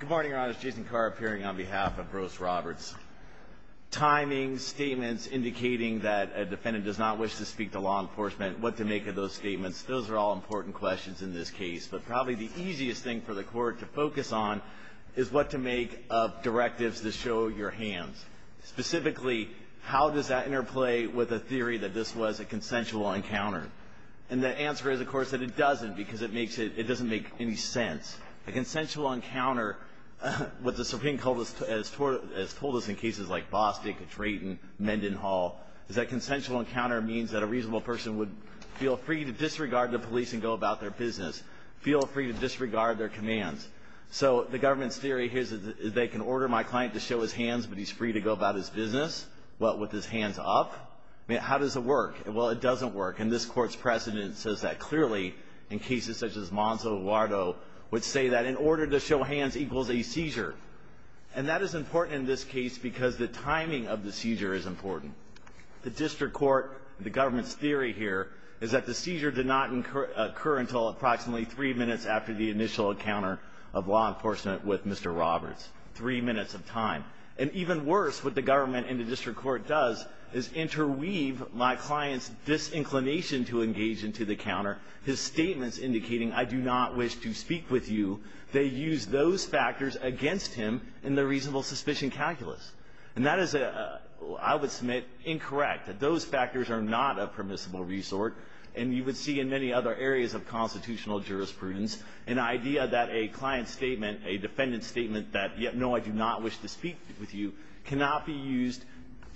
Good morning, Your Honor. It's Jason Carr appearing on behalf of Brose Roberts. Timing, statements indicating that a defendant does not wish to speak to law enforcement, what to make of those statements, those are all important questions in this case, but probably the easiest thing for the court to focus on is what to make of directives that show your hands. Specifically, how does that interplay with a theory that this was a consensual encounter? And the answer is, of course, that it doesn't, because it doesn't make any sense. A consensual encounter, what the Supreme Court has told us in cases like Bostick, Drayton, Mendenhall, is that consensual encounter means that a reasonable person would feel free to disregard the police and go about their business, feel free to disregard their commands. So the government's theory here is that they can order my client to show his hands, but he's free to go about his business? What, with his hands up? I mean, how does it work? Well, it doesn't work. And this Court's precedent says that clearly, in cases such as Monzo, Eduardo, would say that in order to show hands equals a seizure. And that is important in this case because the timing of the seizure is important. The district court, the government's theory here is that the seizure did not occur until approximately three minutes after the initial encounter of law enforcement with Mr. Roberts, three minutes of time. And even worse, what the government and the district court does is interweave my client's disinclination to engage into the encounter, his statements indicating, I do not wish to speak with you. They use those factors against him in the reasonable suspicion calculus. And that is, I would submit, incorrect, that those factors are not a permissible resort. And you would see in many other areas of constitutional jurisprudence an idea that a client's statement, a defendant's statement that, no, I do not wish to speak with you, cannot be used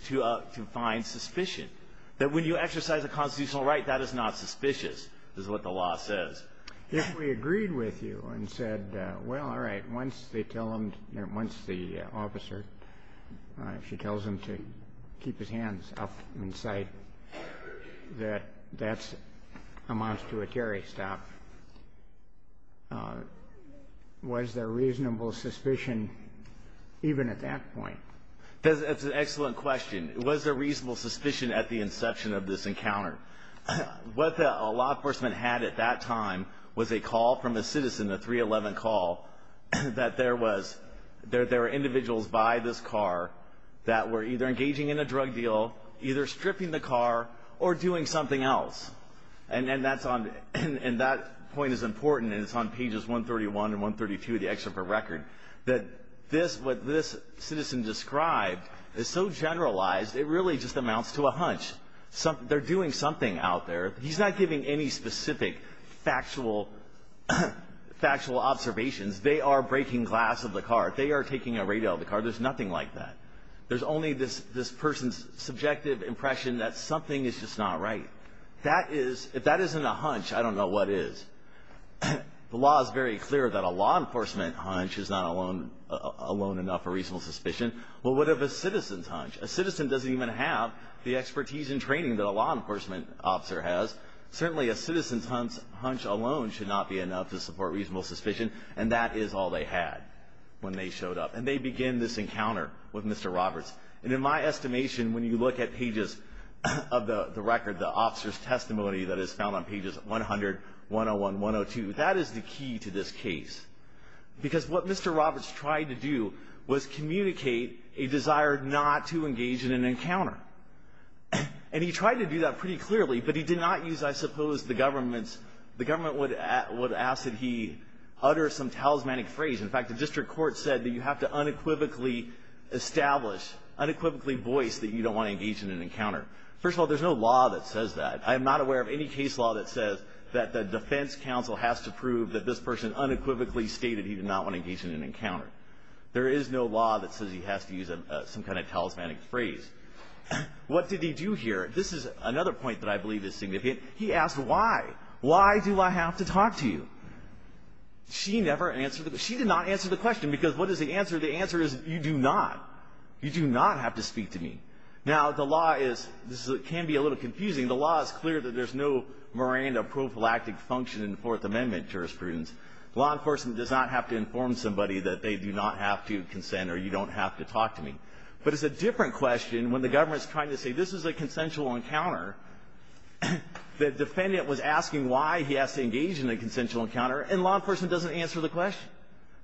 to find suspicion. That when you exercise a constitutional right, that is not suspicious, is what the law says. If we agreed with you and said, well, all right, once they tell him, once the officer, if she tells him to keep his hands up and say that that's a monstruatory stop, was there reasonable suspicion even at that point? That's an excellent question. Was there reasonable suspicion at the inception of this encounter? What the law enforcement had at that time was a call from a citizen, a 311 call, that there were individuals by this car that were either engaging in a drug deal, either stripping the car, or doing something else. And that point is important, and it's on pages 131 and 132 of the excerpt for record, that what this citizen described is so generalized, it really just amounts to a hunch. They're doing something out there. He's not giving any specific factual observations. They are breaking glass of the car. They are taking a radio out of the car. There's nothing like that. There's only this person's subjective impression that something is just not right. That is, if that isn't a hunch, I don't know what is. The law is very clear that a law enforcement hunch is not alone enough for reasonable suspicion. Well, what if a citizen's hunch? A citizen doesn't even have the expertise and training that a law enforcement officer has. Certainly a citizen's hunch alone should not be enough to support reasonable suspicion, and that is all they had when they showed up. And they begin this encounter with Mr. Roberts. And in my estimation, when you look at pages of the record, the officer's testimony that is found on pages 100, 101, 102, that is the key to this case. Because what Mr. Roberts tried to do was communicate a desire not to engage in an encounter. And he tried to do that pretty clearly, but he did not use, I suppose, the government's – the government would ask that he utter some talismanic phrase. In fact, the district court said that you have to unequivocally establish, unequivocally voice, that you don't want to engage in an encounter. First of all, there's no law that says that. I am not aware of any case law that says that the defense counsel has to prove that this person unequivocally stated he did not want to engage in an encounter. There is no law that says he has to use some kind of talismanic phrase. What did he do here? This is another point that I believe is significant. He asked why. Why do I have to talk to you? She never answered the – she did not answer the question, because what is the answer? The answer is you do not. You do not have to speak to me. Now, the law is – this can be a little confusing. The law is clear that there's no Miranda prophylactic function in Fourth Amendment jurisprudence. Law enforcement does not have to inform somebody that they do not have to consent or you don't have to talk to me. But it's a different question when the government is trying to say this is a consensual encounter. The defendant was asking why he has to engage in a consensual encounter, and law enforcement doesn't answer the question.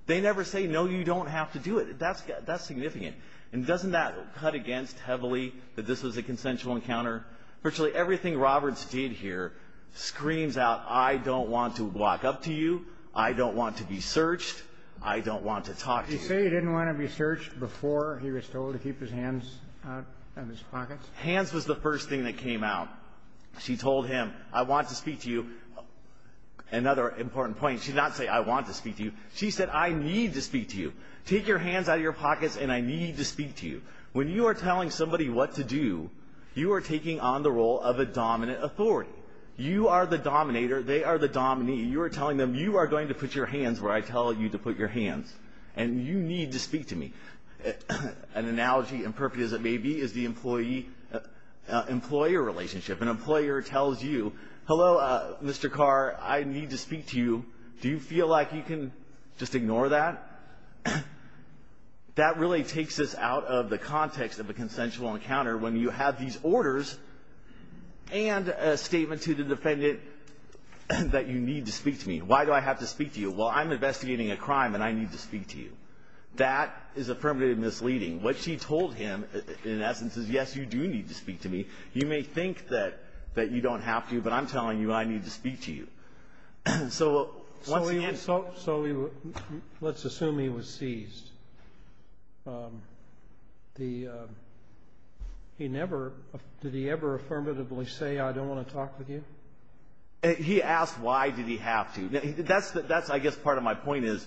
They never say, no, you don't have to do it. That's – that's significant. And doesn't that cut against heavily that this was a consensual encounter? Virtually everything Roberts did here screams out, I don't want to walk up to you, I don't want to be searched, I don't want to talk to you. Did he say he didn't want to be searched before he was told to keep his hands out of his pockets? Hands was the first thing that came out. She told him, I want to speak to you. Another important point, she did not say, I want to speak to you. She said, I need to speak to you. Take your hands out of your pockets, and I need to speak to you. When you are telling somebody what to do, you are taking on the role of a dominant authority. You are the dominator. They are the dominee. You are telling them you are going to put your hands where I tell you to put your hands, and you need to speak to me. An analogy, imperfect as it may be, is the employee-employer relationship. An employer tells you, hello, Mr. Carr, I need to speak to you. Do you feel like you can just ignore that? That really takes us out of the context of a consensual encounter when you have these orders and a statement to the defendant that you need to speak to me. Why do I have to speak to you? Well, I'm investigating a crime, and I need to speak to you. That is affirmative misleading. What she told him, in essence, is, yes, you do need to speak to me. You may think that you don't have to, but I'm telling you I need to speak to you. So let's assume he was seized. Did he ever affirmatively say, I don't want to talk with you? He asked why did he have to. That's, I guess, part of my point is,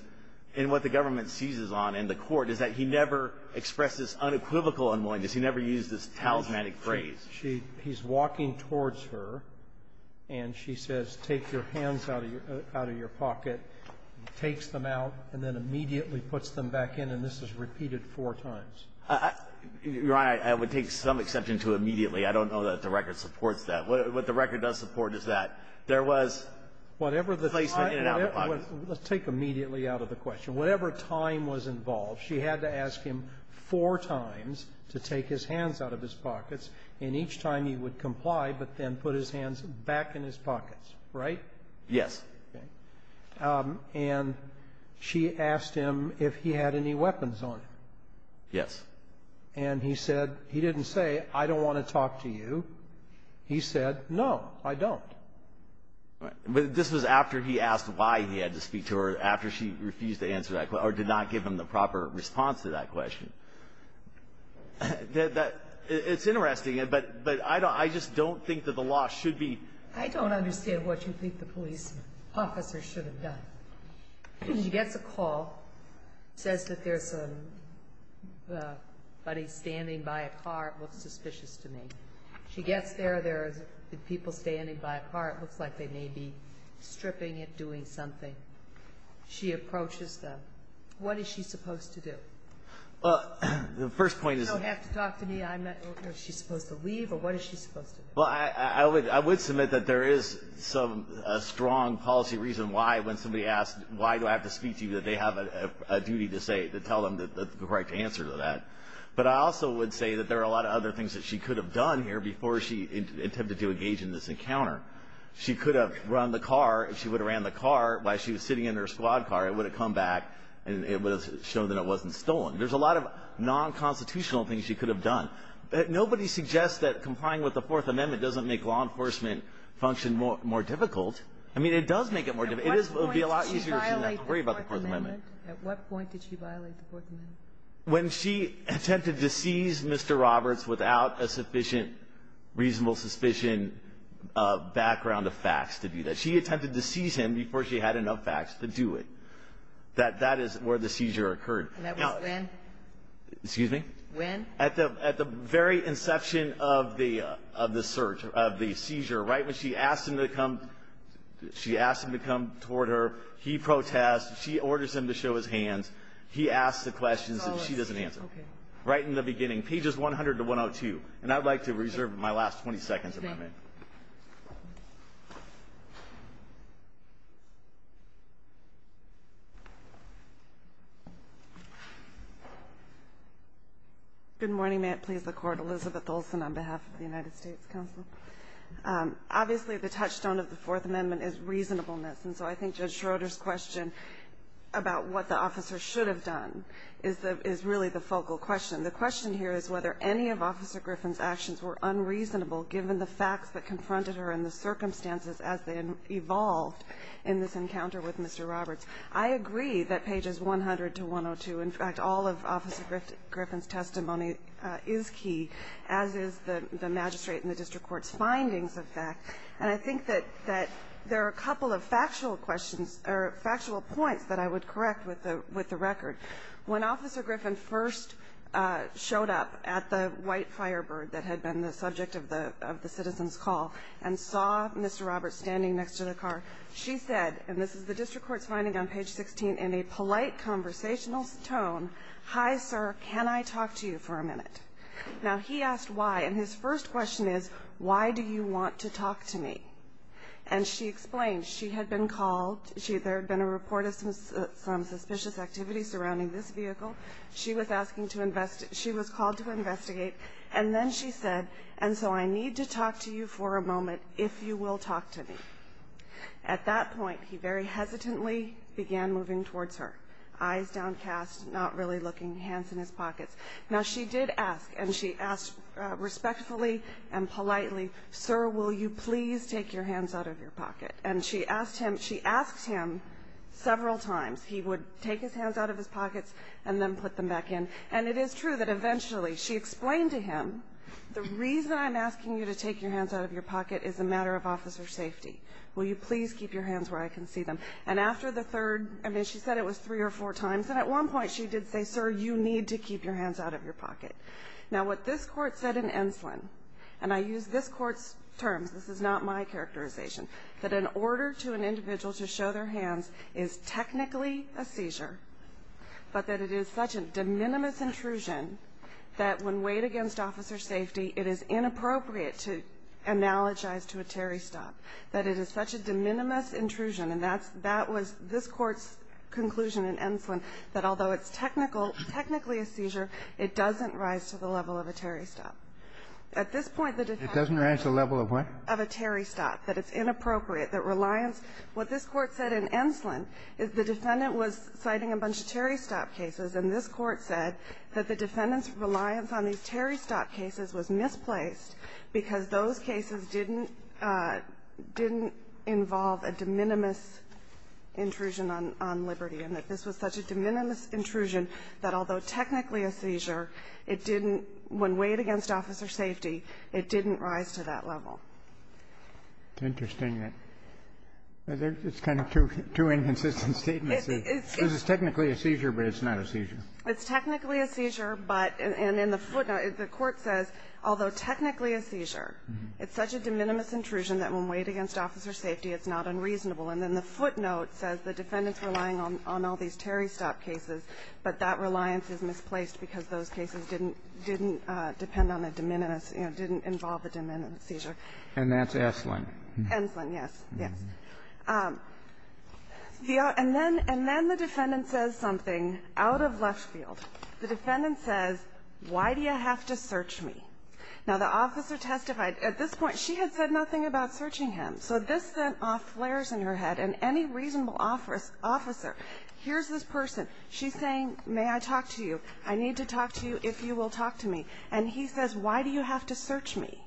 and what the government seizes on in the court, is that he never expresses unequivocal unwillingness. He never used this talismanic phrase. He's walking towards her, and she says, take your hands out of your pocket, takes them out, and then immediately puts them back in. And this is repeated four times. Your Honor, I would take some exception to immediately. I don't know that the record supports that. What the record does support is that there was placement in and out of the pocket. Let's take immediately out of the question. Whatever time was involved, she had to ask him four times to take his hands out of his pocket, and each time he would comply, but then put his hands back in his pockets. Right? Yes. Okay. And she asked him if he had any weapons on him. Yes. And he said, he didn't say, I don't want to talk to you. He said, no, I don't. But this was after he asked why he had to speak to her, after she refused to answer that question, or did not give him the proper response to that question. It's interesting, but I just don't think that the law should be. I don't understand what you think the police officer should have done. She gets a call, says that there's somebody standing by a car. It looks suspicious to me. She gets there. There are people standing by a car. It looks like they may be stripping it, doing something. She approaches them. What is she supposed to do? Well, the first point is. You don't have to talk to me. Was she supposed to leave, or what is she supposed to do? Well, I would submit that there is a strong policy reason why, when somebody asks, why do I have to speak to you, that they have a duty to say, to tell them the correct answer to that. But I also would say that there are a lot of other things that she could have done here before she attempted to engage in this encounter. She could have run the car. If she would have ran the car while she was sitting in her squad car, it would have come back and it would have shown that it wasn't stolen. There's a lot of non-constitutional things she could have done. Nobody suggests that complying with the Fourth Amendment doesn't make law enforcement function more difficult. I mean, it does make it more difficult. It would be a lot easier if she didn't have to worry about the Fourth Amendment. At what point did she violate the Fourth Amendment? When she attempted to seize Mr. Roberts without a sufficient reasonable suspicion background of facts to do that. She attempted to seize him before she had enough facts to do it. That is where the seizure occurred. And that was when? Excuse me? When? At the very inception of the search, of the seizure. Right when she asked him to come toward her, he protested. She orders him to show his hands. He asks the questions and she doesn't answer. Okay. Right in the beginning. Pages 100 to 102. And I'd like to reserve my last 20 seconds if I may. Thank you. Good morning. May it please the Court. Elizabeth Olsen on behalf of the United States Counsel. Obviously, the touchstone of the Fourth Amendment is reasonableness. And so I think Judge Schroeder's question about what the officer should have done is really the focal question. The question here is whether any of Officer Griffin's actions were unreasonable given the facts that confronted her and the circumstances as they evolved in this encounter with Mr. Roberts. I agree that pages 100 to 102, in fact, all of Officer Griffin's testimony, is key, as is the magistrate and the district court's findings of that. And I think that there are a couple of factual questions or factual points that I would correct with the record. When Officer Griffin first showed up at the white Firebird that had been the subject of the citizen's call and saw Mr. Roberts standing next to the car, she said, and this is the district court's finding on page 16, in a polite conversational tone, hi, sir, can I talk to you for a minute? Now, he asked why. And his first question is, why do you want to talk to me? And she explained she had been called, there had been a report of some suspicious activity surrounding this vehicle. She was called to investigate. And then she said, and so I need to talk to you for a moment, if you will talk to me. At that point, he very hesitantly began moving towards her, eyes downcast, not really looking, hands in his pockets. Now, she did ask, and she asked respectfully and politely, sir, will you please take your hands out of your pocket? And she asked him several times. He would take his hands out of his pockets and then put them back in. And it is true that eventually she explained to him, the reason I'm asking you to take your hands out of your pocket is a matter of officer safety. Will you please keep your hands where I can see them? And after the third, I mean, she said it was three or four times. And at one point she did say, sir, you need to keep your hands out of your pocket. Now, what this court said in Enslin, and I use this court's terms, this is not my characterization, that an order to an individual to show their hands is technically a seizure, but that it is such a de minimis intrusion that when weighed against officer safety, it is inappropriate to analogize to a Terry stop, that it is such a de minimis intrusion. And that was this court's conclusion in Enslin, that although it's technically a seizure, it doesn't rise to the level of a Terry stop. At this point, the defendant was citing a bunch of Terry stop cases, and this Court said that the defendant's reliance on these Terry stop cases was misplaced because those cases didn't involve a de minimis intrusion on liberty, and that this was such a de minimis intrusion that although technically a seizure, it didn't when weighed against officer safety, it didn't rise to that level. It's interesting that it's kind of two inconsistent statements. It's technically a seizure, but it's not a seizure. It's technically a seizure, but in the footnote, the Court says, although technically a seizure, it's such a de minimis intrusion that when weighed against officer safety, it's not unreasonable. And then the footnote says the defendant's relying on all these Terry stop cases, but that reliance is misplaced because those cases didn't depend on a de minimis or didn't involve a de minimis seizure. And that's Enslin. Enslin, yes. Yes. And then the defendant says something out of left field. The defendant says, why do you have to search me? Now, the officer testified. At this point, she had said nothing about searching him. So this sent off flares in her head, and any reasonable officer, here's this person. She's saying, may I talk to you? I need to talk to you if you will talk to me. And he says, why do you have to search me?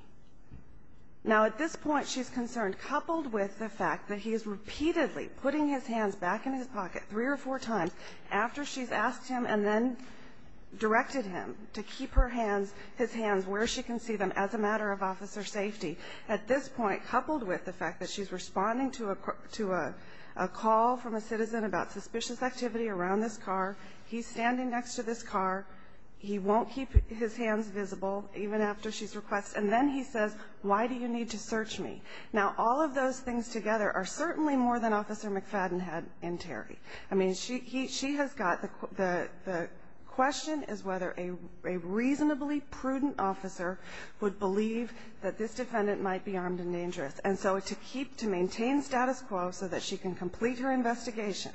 Now, at this point, she's concerned, coupled with the fact that he is repeatedly putting his hands back in his pocket three or four times after she's asked him and then directed him to keep her hands, his hands, where she can see them, as a matter of officer safety. At this point, coupled with the fact that she's responding to a call from a citizen about suspicious activity around this car, he's standing next to this car, he won't keep his hands visible even after she's requested, and then he says, why do you need to search me? Now, all of those things together are certainly more than Officer McFadden had in Terry. I mean, she has got the question is whether a reasonably prudent officer would believe that this defendant might be armed and dangerous. And so to keep, to maintain status quo so that she can complete her investigation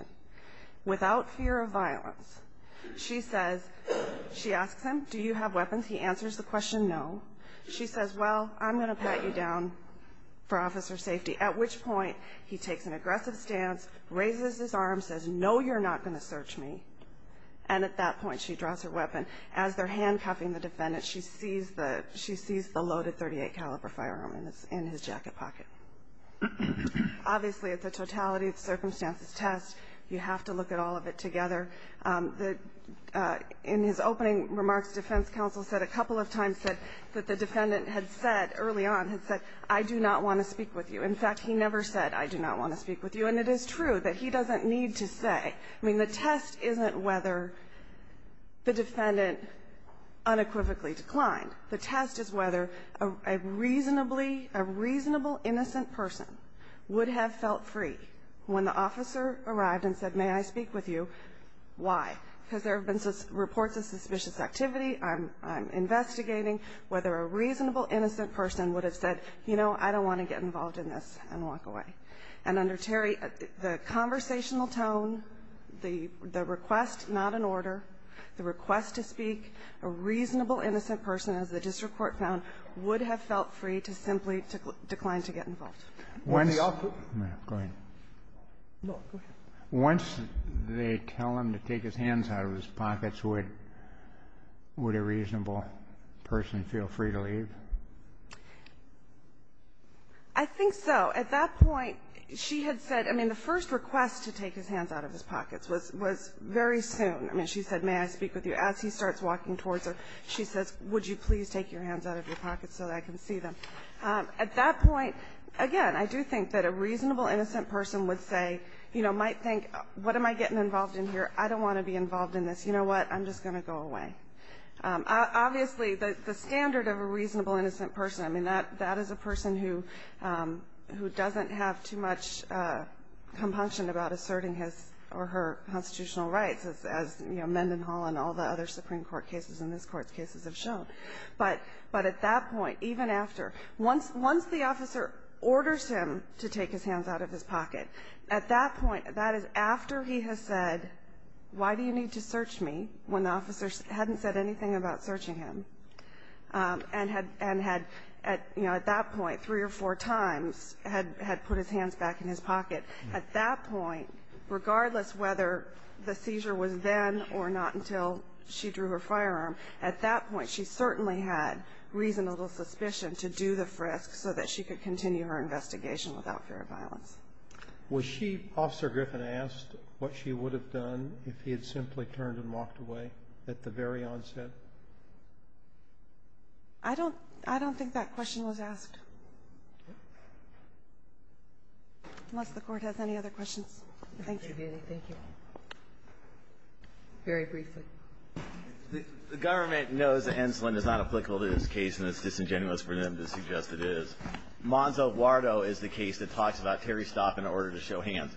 without fear of violence, she says, she asks him, do you have weapons? He answers the question, no. She says, well, I'm going to pat you down for officer safety, at which point he takes an aggressive stance, raises his arms, says, no, you're not going to search me. And at that point, she draws her weapon. As they're handcuffing the defendant, she sees the loaded .38 caliber firearm in his jacket pocket. Obviously, it's a totality of circumstances test. You have to look at all of it together. In his opening remarks, defense counsel said a couple of times that the defendant had said early on, had said, I do not want to speak with you. In fact, he never said, I do not want to speak with you. And it is true that he doesn't need to say. I mean, the test isn't whether the defendant unequivocally declined. The test is whether a reasonable innocent person would have felt free when the officer arrived and said, may I speak with you? Why? Because there have been reports of suspicious activity, I'm investigating whether a reasonable innocent person would have said, you know, I don't want to get involved in this and walk away. And under Terry, the conversational tone, the request not in order, the request to speak, a reasonable innocent person, as the district court found, would have felt free to simply decline to get involved. Once the officer go ahead. No, go ahead. Once they tell him to take his hands out of his pockets, would a reasonable person feel free to leave? I think so. At that point, she had said, I mean, the first request to take his hands out of his pockets, she said, may I speak with you? As he starts walking towards her, she says, would you please take your hands out of your pockets so that I can see them? At that point, again, I do think that a reasonable innocent person would say, you know, might think, what am I getting involved in here? I don't want to be involved in this. You know what? I'm just going to go away. Obviously, the standard of a reasonable innocent person, I mean, that is a person who doesn't have too much compunction about asserting his or her constitutional rights, as, you know, Mendenhall and all the other Supreme Court cases and this Court's cases have shown. But at that point, even after, once the officer orders him to take his hands out of his pocket, at that point, that is after he has said, why do you need to search me, when the officer hadn't said anything about searching him, and had, you know, at that point, three or four times, had put his hands back in his pocket. At that point, regardless whether the seizure was then or not until she drew her firearm, at that point, she certainly had reasonable suspicion to do the frisk so that she could continue her investigation without fear of violence. Was she, Officer Griffin, asked what she would have done if he had simply turned and walked away at the very onset? I don't think that question was asked. Unless the Court has any other questions. Thank you. Thank you. Very briefly. The government knows that Enslin is not applicable to this case, and it's disingenuous for them to suggest it is. Monza-Guardo is the case that talks about Terry Stopp in order to show hands.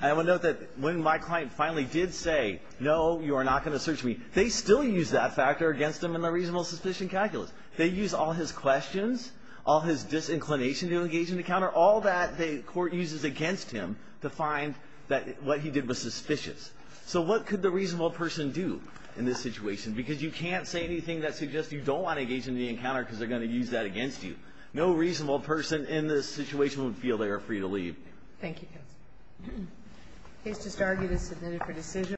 I will note that when my client finally did say, no, you are not going to search me, they still used that factor against him in the reasonable suspicion calculus. They used all his questions, all his disinclination to engage in the encounter, all that the Court uses against him to find that what he did was suspicious. So what could the reasonable person do in this situation? Because you can't say anything that suggests you don't want to engage in the encounter because they're going to use that against you. No reasonable person in this situation would feel they are free to leave. Thank you, counsel. The case just argued is submitted for decision.